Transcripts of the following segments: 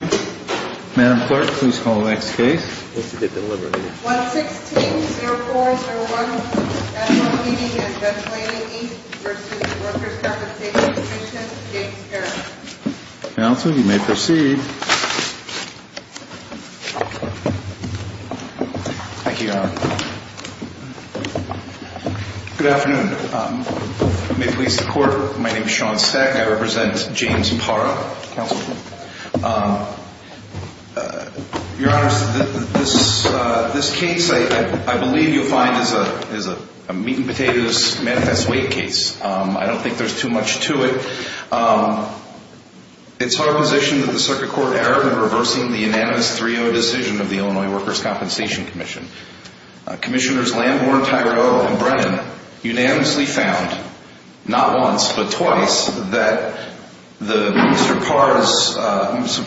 Good afternoon. May it please the court, my name is Sean Seck. I represent James Parra, Councilman. Your Honor, this case I believe you'll find is a meat-and-potatoes manifest weight case. I don't think there's too much to it. It's our position that the Circuit Court erred in reversing the unanimous 3-0 decision of the Illinois Workers' Compensation Commission. Commissioners Lamborn, Tigard-O and Brennan unanimously found, not once but twice, that Mr.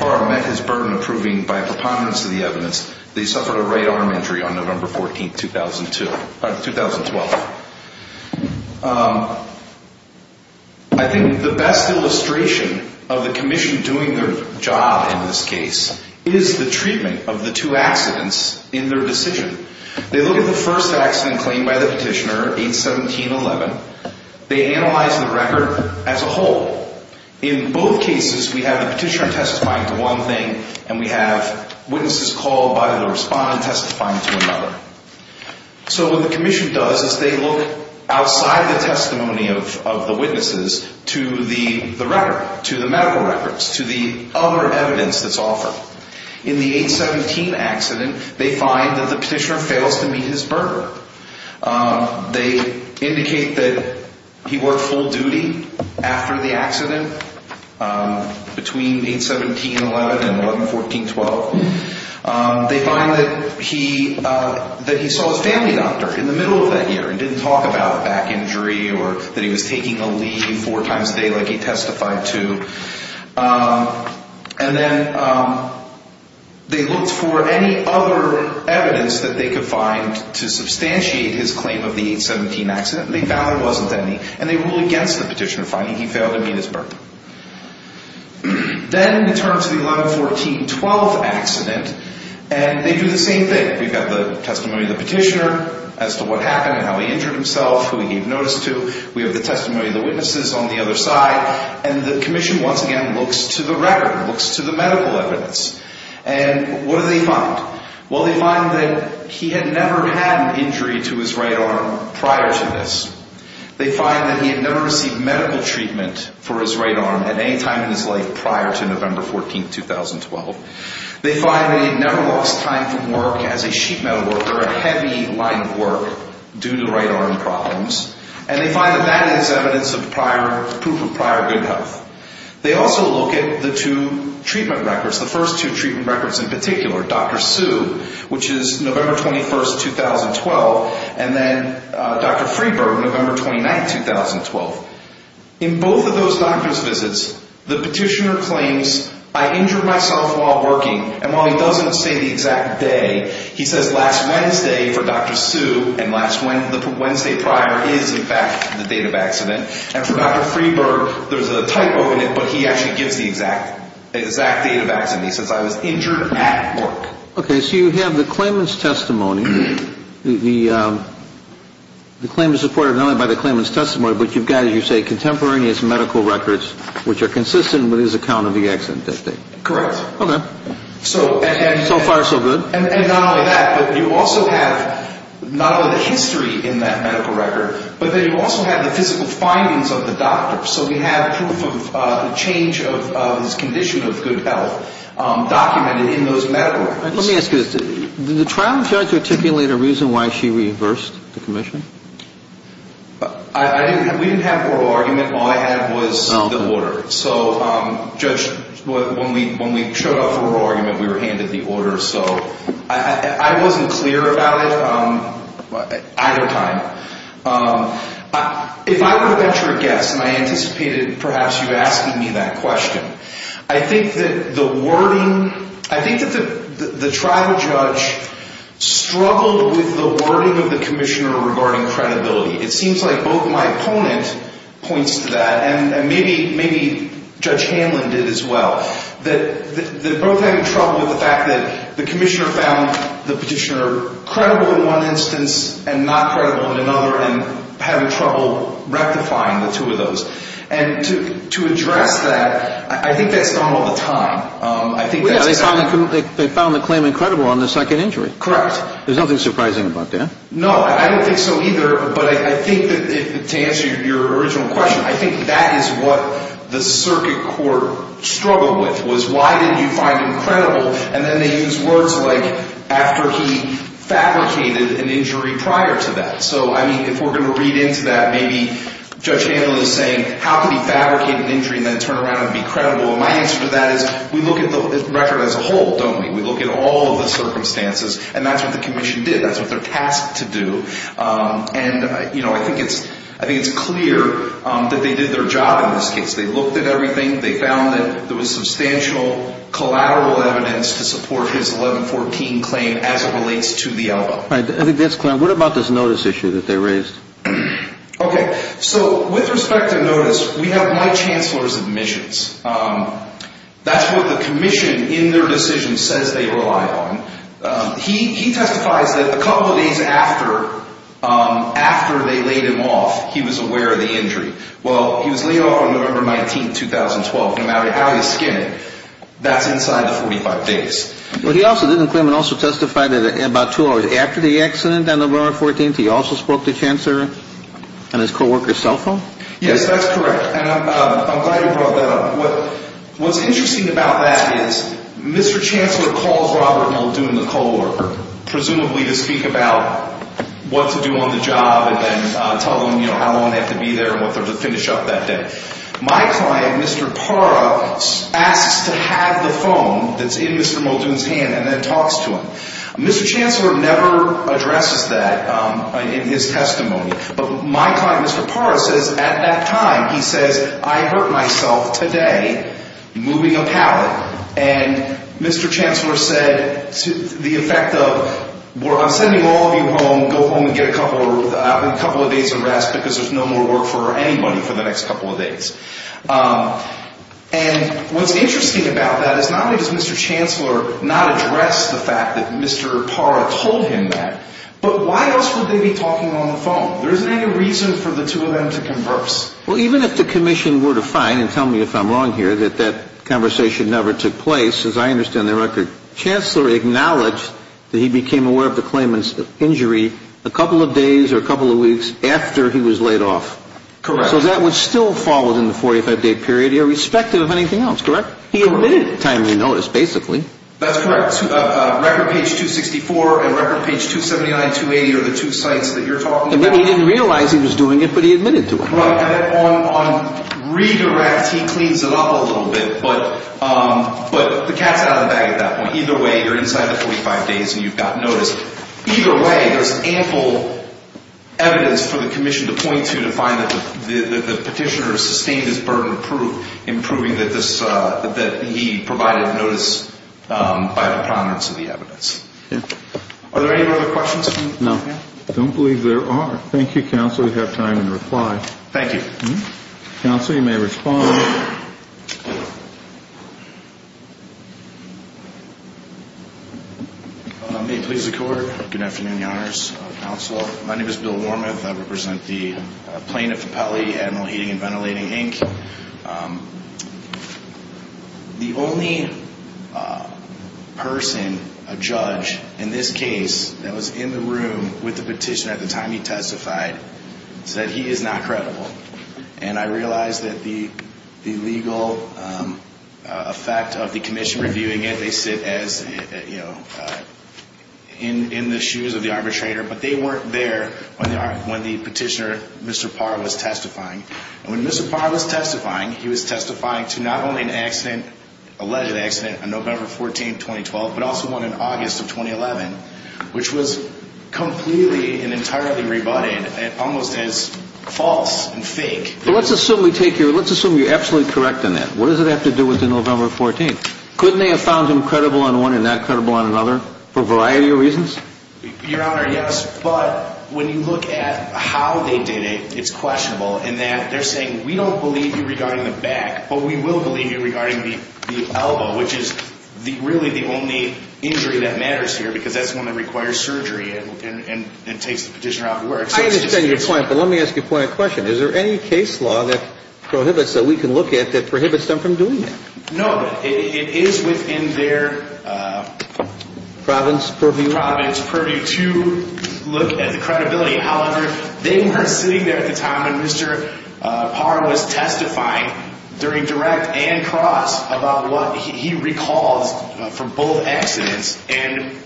Parra met his burden of proving by a preponderance of the evidence that he suffered a right arm injury on November 14, 2012. I think the best illustration of the Commission doing their job in this case is the treatment of the two accidents in their decision. They look at the first accident claimed by the petitioner, 8-17-11. They analyze the record as a whole. In both cases, we have the petitioner testifying to one thing and we have witnesses called by the respondent testifying to another. So what the Commission does is they look outside the testimony of the witnesses to the record, to the medical records, to the other evidence that's offered. In the 8-17 accident, they find that the petitioner fails to meet his burden. They indicate that he worked full duty after the accident, between 8-17-11 and 11-14-12. They find that he saw his family doctor in the middle of that year and didn't talk about a back injury or that he was taking a leave four times a day like he testified to. And then they looked for any other evidence that they could find to substantiate his claim of the 8-17 accident. They found there wasn't any. And they ruled against the petitioner finding he failed to meet his burden. Then we turn to the 11-14-12 accident and they do the same thing. We've got the testimony of the petitioner as to what happened and how he injured himself, who he gave notice to. We have the testimony of the witnesses on the other side. And the commission once again looks to the record, looks to the medical evidence. And what do they find? Well, they find that he had never had an injury to his right arm prior to this. They find that he had never received medical treatment for his right arm at any time in his life prior to November 14, 2012. They find that he had never lost time from work as a sheet metal worker, a heavy line of work due to right arm problems. And they find that that is evidence of prior, proof of prior good health. They also look at the two treatment records, the first two treatment records in particular, Dr. Su, which is November 21, 2012, and then Dr. Freeburg, November 29, 2012. In both of those doctor's visits, the petitioner claims, I injured myself while working. And while he doesn't say the exact day, he says last Wednesday for Dr. Su and last Wednesday prior is in fact the date of accident. And for Dr. Freeburg, there's a typo in it, but he actually gives the exact date of accident. He says I was injured at work. Okay, so you have the claimant's testimony. The claim is supported not only by the claimant's testimony, but you've got, as you say, contemporaneous medical records, which are consistent with his account of the accident that day. Correct. Okay. So far so good. And not only that, but you also have, not only the history in that medical record, but then you also have the physical findings of the doctor. So we have proof of the change of his condition of good health documented in those medical records. Let me ask you this. Did the trial judge articulate a reason why she reversed the commission? I didn't have, we didn't have an oral argument. All I had was the order. So Judge, when we showed up for oral argument, we were handed the order. So I wasn't clear about it either time. If I were to venture a guess, and I anticipated perhaps you asking me that question, I think that the wording, I think that the trial judge struggled with the wording of the commissioner regarding credibility. It seems like both my opponent points to that, and maybe Judge Hanlon did as well, that they're both having trouble with the fact that the commissioner found the petitioner credible in one instance and not credible in another, and having trouble rectifying the two of those. And to address that, I think that's done all the time. I think that's done all the time. They found the claimant credible on the second injury. Correct. There's nothing surprising about that. No, I don't think so either, but I think that, to answer your original question, I think that is what the circuit court struggled with, was why did you find him credible, and then they used words like, after he fabricated an injury prior to that. So, I mean, if we're going to read into that, maybe Judge Hanlon is saying, how could he fabricate an injury and then turn around and be credible? And my answer to that is, we look at the record as a whole, don't we? We look at all of the circumstances, and that's what the commission did. That's what they're tasked to do. And, you know, I think it's clear that they did their job in this case. They looked at everything. They found that there was substantial collateral evidence to support his 1114 claim as it relates to the elbow. All right, I think that's clear. What about this notice issue that they raised? Okay, so with respect to notice, we have my chancellor's admissions. That's what the commission in their decision says they rely on. He testifies that a couple of days after they laid him off, he was aware of the injury. Well, he was laid off on November 19, 2012. No matter how he's skinned, that's inside the 45 days. Well, he also didn't claim and also testified that in about two hours after the accident on November 14th, he also spoke to chancellor on his co-worker's cell phone? Yes, that's correct, and I'm glad you brought that up. What's interesting about that is Mr. Chancellor calls Robert Muldoon, the co-worker, presumably to speak about what to do on the job and then tell him, you know, how long they have to be there and what they're going to finish up that day. My client, Mr. Parra, asks to have the phone that's in Mr. Muldoon's hand and then talks to him. Mr. Chancellor never addresses that in his testimony, but my client, Mr. Parra, says at that time, he says, I hurt myself today moving a pallet, and Mr. Chancellor said the effect of, I'm sending all of you home, go home and get a couple of days of rest because there's no more work for anybody for the next couple of days. And what's interesting about that is not only does Mr. Chancellor not address the fact that Mr. Parra told him that, but why else would they be talking on the phone? There isn't any reason for the two of them to converse. Well, even if the commission were to find, and tell me if I'm wrong here, that that conversation never took place, as I understand the record, Chancellor acknowledged that he became aware of the claimant's injury a couple of days or a couple of weeks after he was laid off. Correct. So that was still followed in the 45-day period, irrespective of anything else, correct? Correct. He omitted timely notice, basically. That's correct. Record page 264 and record page 279, 280 are the two sites that you're talking about. And then he didn't realize he was doing it, but he admitted to it. Right. And then on redirect, he cleans it up a little bit, but the cat's out of the bag at that point. Either way, you're inside the 45 days and you've gotten notice. Either way, there's ample evidence for the commission to point to, to find that the petitioner sustained his burden of proof in proving that he provided notice by the prominence of the evidence. Yeah. Are there any other questions? No. Okay. I don't believe there are. Thank you, Counsel. We have time to reply. Thank you. Counsel, you may respond. May it please the Court. Good afternoon, Your Honors. Counsel, my name is Bill Wormuth. I represent the plaintiff of Pele, Admiral Heating and Ventilating, Inc. The only person, a judge, in this case that was in the room with the petitioner at the time he testified said he is not credible. And I realize that the legal effect of the commission reviewing it, they sit as, you know, in the shoes of the arbitrator, but they weren't there when the petitioner, Mr. Parr, was testifying. And when Mr. Parr was testifying, he was testifying to not only an accident, alleged accident, on November 14th, 2012, but also one in August of 2011, which was completely and entirely rebutted almost as false and fake. But let's assume we take your, let's assume you're absolutely correct on that. What does it have to do with the November 14th? Couldn't they have found him credible on one and not credible on another for a variety of reasons? Your Honor, yes. But when you look at how they did it, it's questionable in that they're the back, but we will believe you regarding the elbow, which is really the only injury that matters here, because that's the one that requires surgery and takes the petitioner out of work. I understand your point, but let me ask you a point of question. Is there any case law that prohibits, that we can look at, that prohibits them from doing that? No, but it is within their Province purview? Province purview to look at the credibility. However, they were sitting there at the time when Mr. Parra was testifying during direct and cross about what he recalls from both accidents, and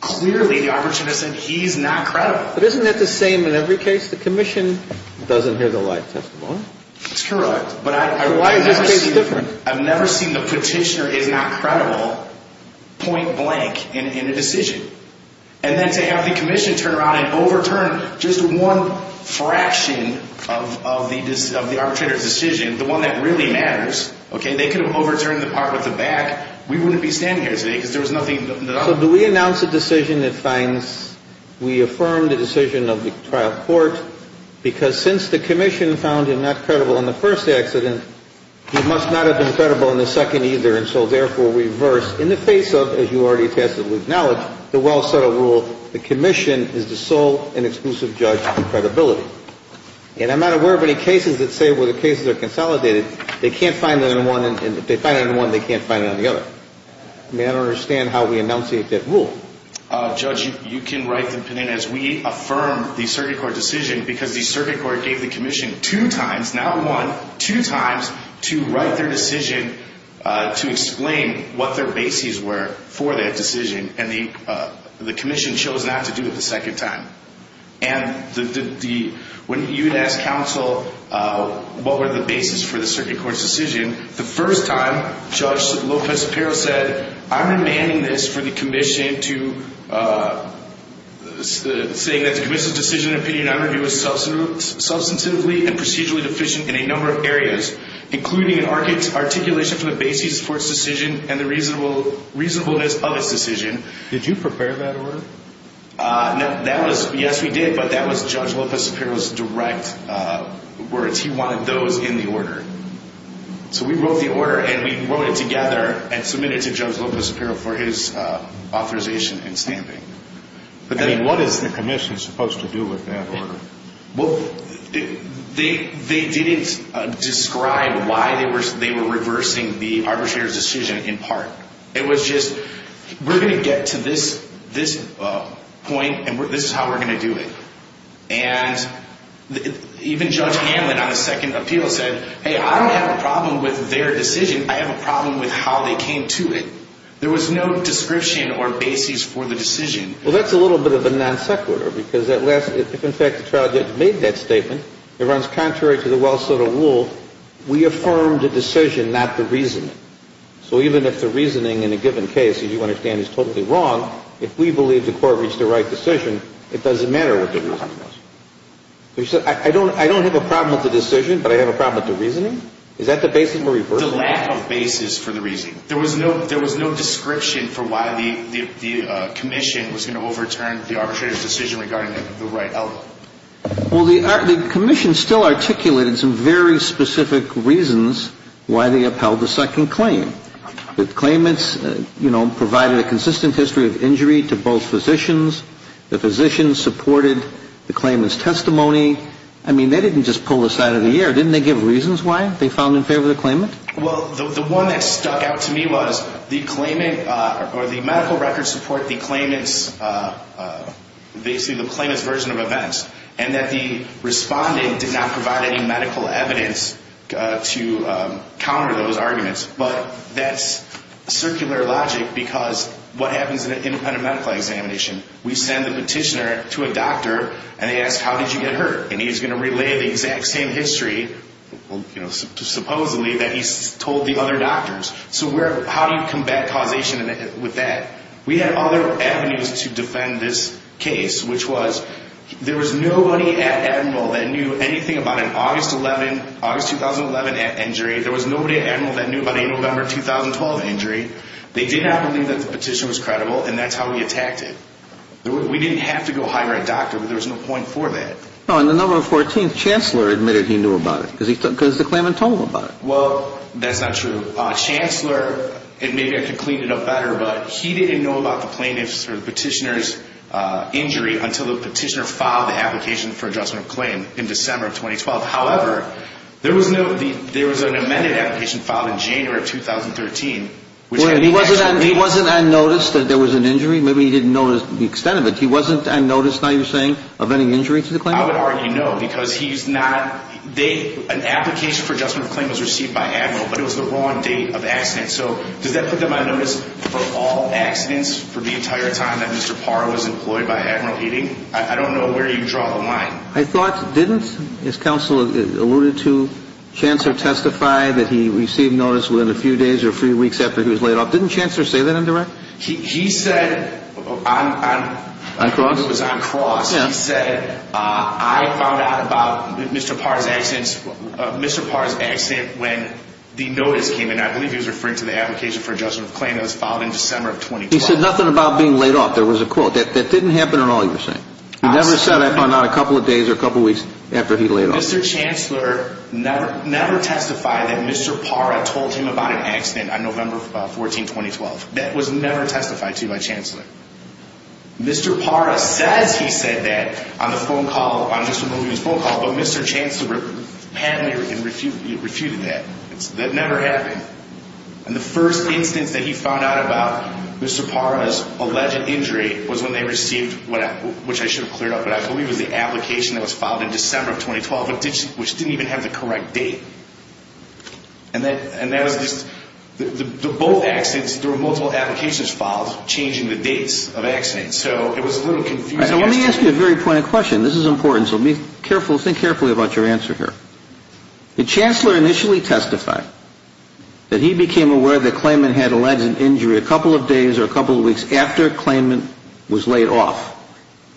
clearly the arbitrator said he's not credible. But isn't that the same in every case? The commission doesn't hear the lie testimony. That's correct. But why is this case different? I've never seen the petitioner is not credible point blank in a decision. And then to have the commission turn around and overturn just one fraction of the arbitrator's decision, the one that really matters, okay, they could have overturned the part with the back, we wouldn't be standing here today because there was nothing. So do we announce a decision that finds, we affirm the decision of the trial court, because since the commission found him not credible in the first accident, he must not have been credible in the second either, and so therefore we reverse in the face of, as you already said, the commission is the sole and exclusive judge of credibility. And I'm not aware of any cases that say where the cases are consolidated, they can't find it on one, and if they find it on one, they can't find it on the other. I mean, I don't understand how we enunciate that rule. Judge, you can write the opinion as we affirm the circuit court decision because the circuit court gave the commission two times, not one, two times to write their decision to explain what their bases were for that decision, and the commission chose not to do it the second time. And when you had asked counsel what were the bases for the circuit court's decision, the first time, Judge Lopez-Apero said, I'm demanding this for the commission to, saying that the commission's decision and opinion on review is substantively and procedurally deficient in a number of areas, including an articulation for the basis for the circuit court's decision and the reasonableness of its decision. Did you prepare that order? Yes, we did, but that was Judge Lopez-Apero's direct words. He wanted those in the order. So we wrote the order, and we wrote it together and submitted it to Judge Lopez-Apero for his authorization and stamping. I mean, what is the commission supposed to do with that order? Well, they didn't describe why they were reversing the arbitrator's decision in part. It was just, we're going to get to this point, and this is how we're going to do it. And even Judge Hanlon on the second appeal said, hey, I don't have a problem with their decision. I have a problem with how they came to it. There was no description or basis for the decision. Well, that's a little bit of a non sequitur, because if, in fact, the trial judge made that statement, it runs contrary to the Wells-Soto rule. We affirmed the decision, not the reasoning. So even if the reasoning in a given case, as you understand, is totally wrong, if we believe the court reached the right decision, it doesn't matter what the reasoning is. So you said, I don't have a problem with the decision, but I have a problem with the reasoning? Is that the basis for reversing it? The lack of basis for the reasoning. There was no description for why the commission was going to overturn the arbitrator's decision regarding the right element. Well, the commission still articulated some very specific reasons why they upheld the second claim. The claimants, you know, provided a consistent history of injury to both physicians. The physicians supported the claimant's testimony. I mean, they didn't just pull this out of the air. Didn't they give reasons why they found in favor of the claimant? Well, the one that stuck out to me was the claimant, or the medical records support the claimant's, basically the claimant's version of events, and that the respondent did not provide any medical evidence to counter those arguments. But that's circular logic, because what happens in an independent medical examination, we send the petitioner to a doctor, and they ask, how did you get hurt? And he's going to relay the exact same history, you know, supposedly, that he's told the other doctors. So how do you combat causation with that? We had other avenues to defend this case, which was, there was nobody at Admiral that knew anything about an August 2011 injury. There was nobody at Admiral that knew about a November 2012 injury. They did not believe that the petition was credible, and that's how we attacked it. We didn't have to go hire a doctor, but there was no point for that. No, and the November 14th, Chancellor admitted he knew about it, because the claimant told him about it. Well, that's not true. Chancellor, and maybe I could clean it up better, but he didn't know about the plaintiff's or the petitioner's injury until the petitioner filed the application for adjustment of claim in December of 2012. However, there was no, there was an amended application filed in January of 2013. Wait, he wasn't unnoticed that there was an injury? Maybe he didn't notice the extent of it. He wasn't unnoticed, now you're saying, of any injury to the claimant? I would argue no, because he's not, they, an application for adjustment of claim was received by Admiral, but it was the wrong date of accident, so does that put them on notice for all accidents for the entire time that Mr. Parr was employed by Admiral Heating? I don't know where you draw the line. I thought, didn't, as counsel alluded to, Chancellor testify that he received notice within a few days or a few weeks after he was laid off? Didn't Chancellor say that in direct? He said, on cross, he said, I found out about Mr. Parr's accident, Mr. Parr's accident when the notice came in, I believe he was referring to the application for adjustment of claim that was filed in December of 2012. He said nothing about being laid off, there was a quote, that didn't happen at all, you're saying? He never said I found out a couple of days or a couple of weeks after he laid off? Mr. Chancellor never testified that Mr. Parr had told him about an accident on the phone, he never testified to by Chancellor. Mr. Parr says he said that on the phone call, on Mr. Mulvaney's phone call, but Mr. Chancellor panicked and refuted that. That never happened. And the first instance that he found out about Mr. Parr's alleged injury was when they received, which I should have cleared up, but I believe it was the application that was filed in December of 2012, which didn't even have the correct date. And that was just, the both accidents, there were multiple applications filed changing the dates of accidents. So it was a little confusing. All right, so let me ask you a very pointed question. This is important, so think carefully about your answer here. Did Chancellor initially testify that he became aware that Clayman had alleged injury a couple of days or a couple of weeks after Clayman was laid off?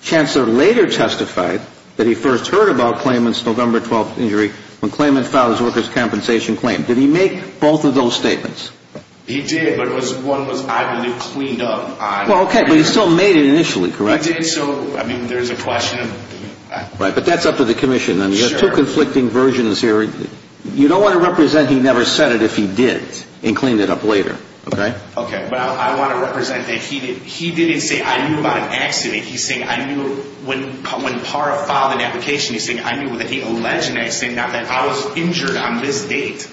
Chancellor later testified that he first heard about Clayman's November 12th injury when Clayman filed his worker's compensation claim. Did he make both of those statements? He did, but one was, I believe, cleaned up. Well, okay, but he still made it initially, correct? He did, so, I mean, there's a question of... Right, but that's up to the commission. I mean, you have two conflicting versions here. You don't want to represent he never said it if he did and cleaned it up later, okay? Okay, but I want to represent that he didn't say, I knew about an accident. He's saying, I knew when Parr filed an application, he's saying, I knew that he alleged, and he's saying that I was injured on this date.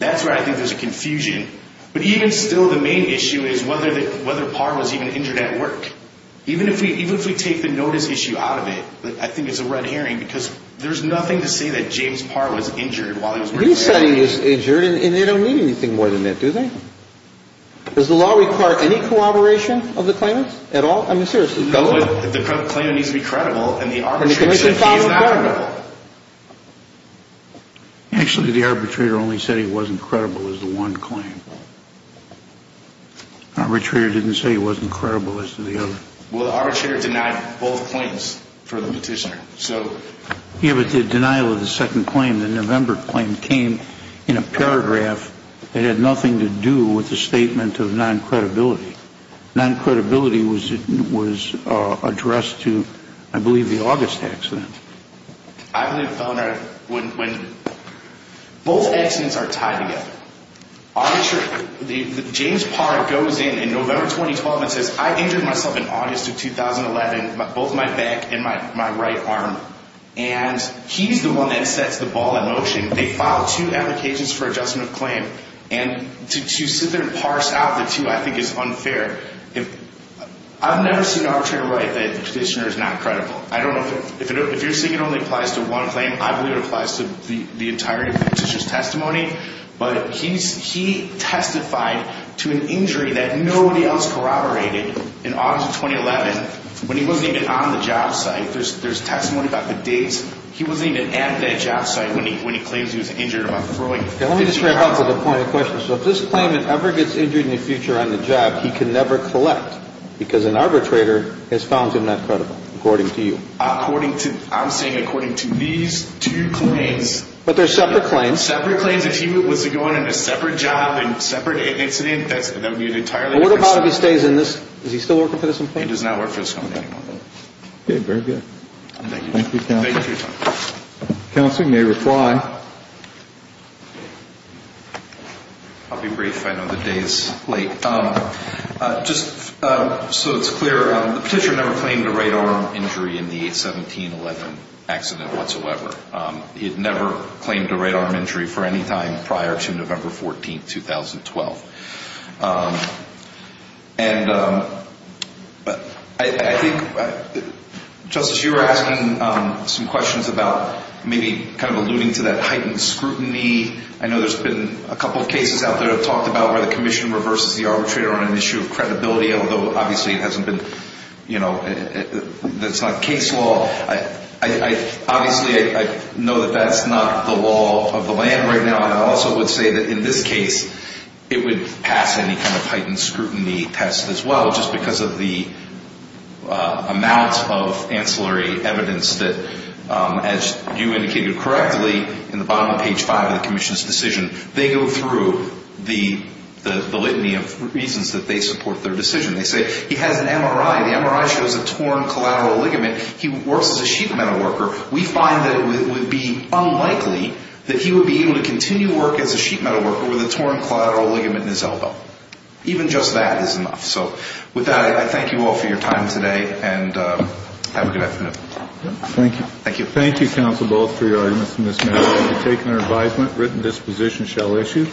That's where I think there's a confusion. But even still, the main issue is whether Parr was even injured at work. Even if we take the notice issue out of it, I think it's a red herring, because there's nothing to say that James Parr was injured while he was working. He said he was injured, and they don't need anything more than that, do they? Does the law require any corroboration of the claimants at all? I mean, seriously. No, but the claimant needs to be credible, and the arbitrator said he's not credible. Actually, the arbitrator only said he wasn't credible is the one claim. Arbitrator didn't say he wasn't credible as to the other. Well, the arbitrator denied both claims for the petitioner. Yeah, but the denial of the second claim, the November claim, came in a paragraph that had nothing to do with the statement of non-credibility. Non-credibility was addressed to, I believe, the August accident. I believe both accidents are tied together. James Parr goes in in November 2012 and says, I injured myself in August of 2011, both my back and my right arm, and he's the one that sets the ball in motion. They filed two applications for adjustment of claim, and to sit there and parse out the two I think is unfair. I've never seen an arbitrator write that the petitioner is not credible. I don't know. If you're saying it only applies to one claim, I believe it applies to the entirety of the petitioner's testimony. But he testified to an injury that nobody else corroborated in August of 2011 when he wasn't even on the job site. There's testimony about the dates. He wasn't even at that job site when he claims he was injured about throwing 50 pounds. Let me just wrap up to the point of the question. So if this claimant ever gets injured in the future on the job, he can never collect because an arbitrator has found him not credible, according to you. I'm saying according to these two claims. But they're separate claims. Separate claims. If he was going in a separate job and separate incident, that would be an entirely different story. What about if he stays in this? Is he still working for this company? He does not work for this company anymore. Okay. Very good. Thank you. Thank you for your time. Counsel may reply. I'll be brief. I know the day is late. Just so it's clear, the Petitioner never claimed a right arm injury in the 1711 accident whatsoever. He had never claimed a right arm injury for any time prior to November 14th, 2012. And I think, Justice, you were asking some questions about maybe kind of alluding to that heightened scrutiny. I know there's been a couple of cases out there that have talked about where the Commission reverses the arbitrator on an issue of credibility, although obviously it hasn't been, you know, that's not case law. Obviously, I know that that's not the law of the land right now. And I also would say that in this case, it would pass any kind of heightened scrutiny test as well, just because of the amount of ancillary evidence that, as you indicated correctly, in the bottom of page 5 of the Commission's decision, they go through the litany of reasons that they support their decision. They say he has an MRI. The MRI shows a torn collateral ligament. He works as a sheet metal worker. We find that it would be unlikely that he would be able to continue work as a sheet metal worker with a torn collateral ligament in his elbow. Even just that is enough. So with that, I thank you all for your time today, and have a good afternoon. Thank you. Thank you. Thank you, Counsel Bullock, for your arguments in this matter. I have taken your advisement, written disposition shall issue.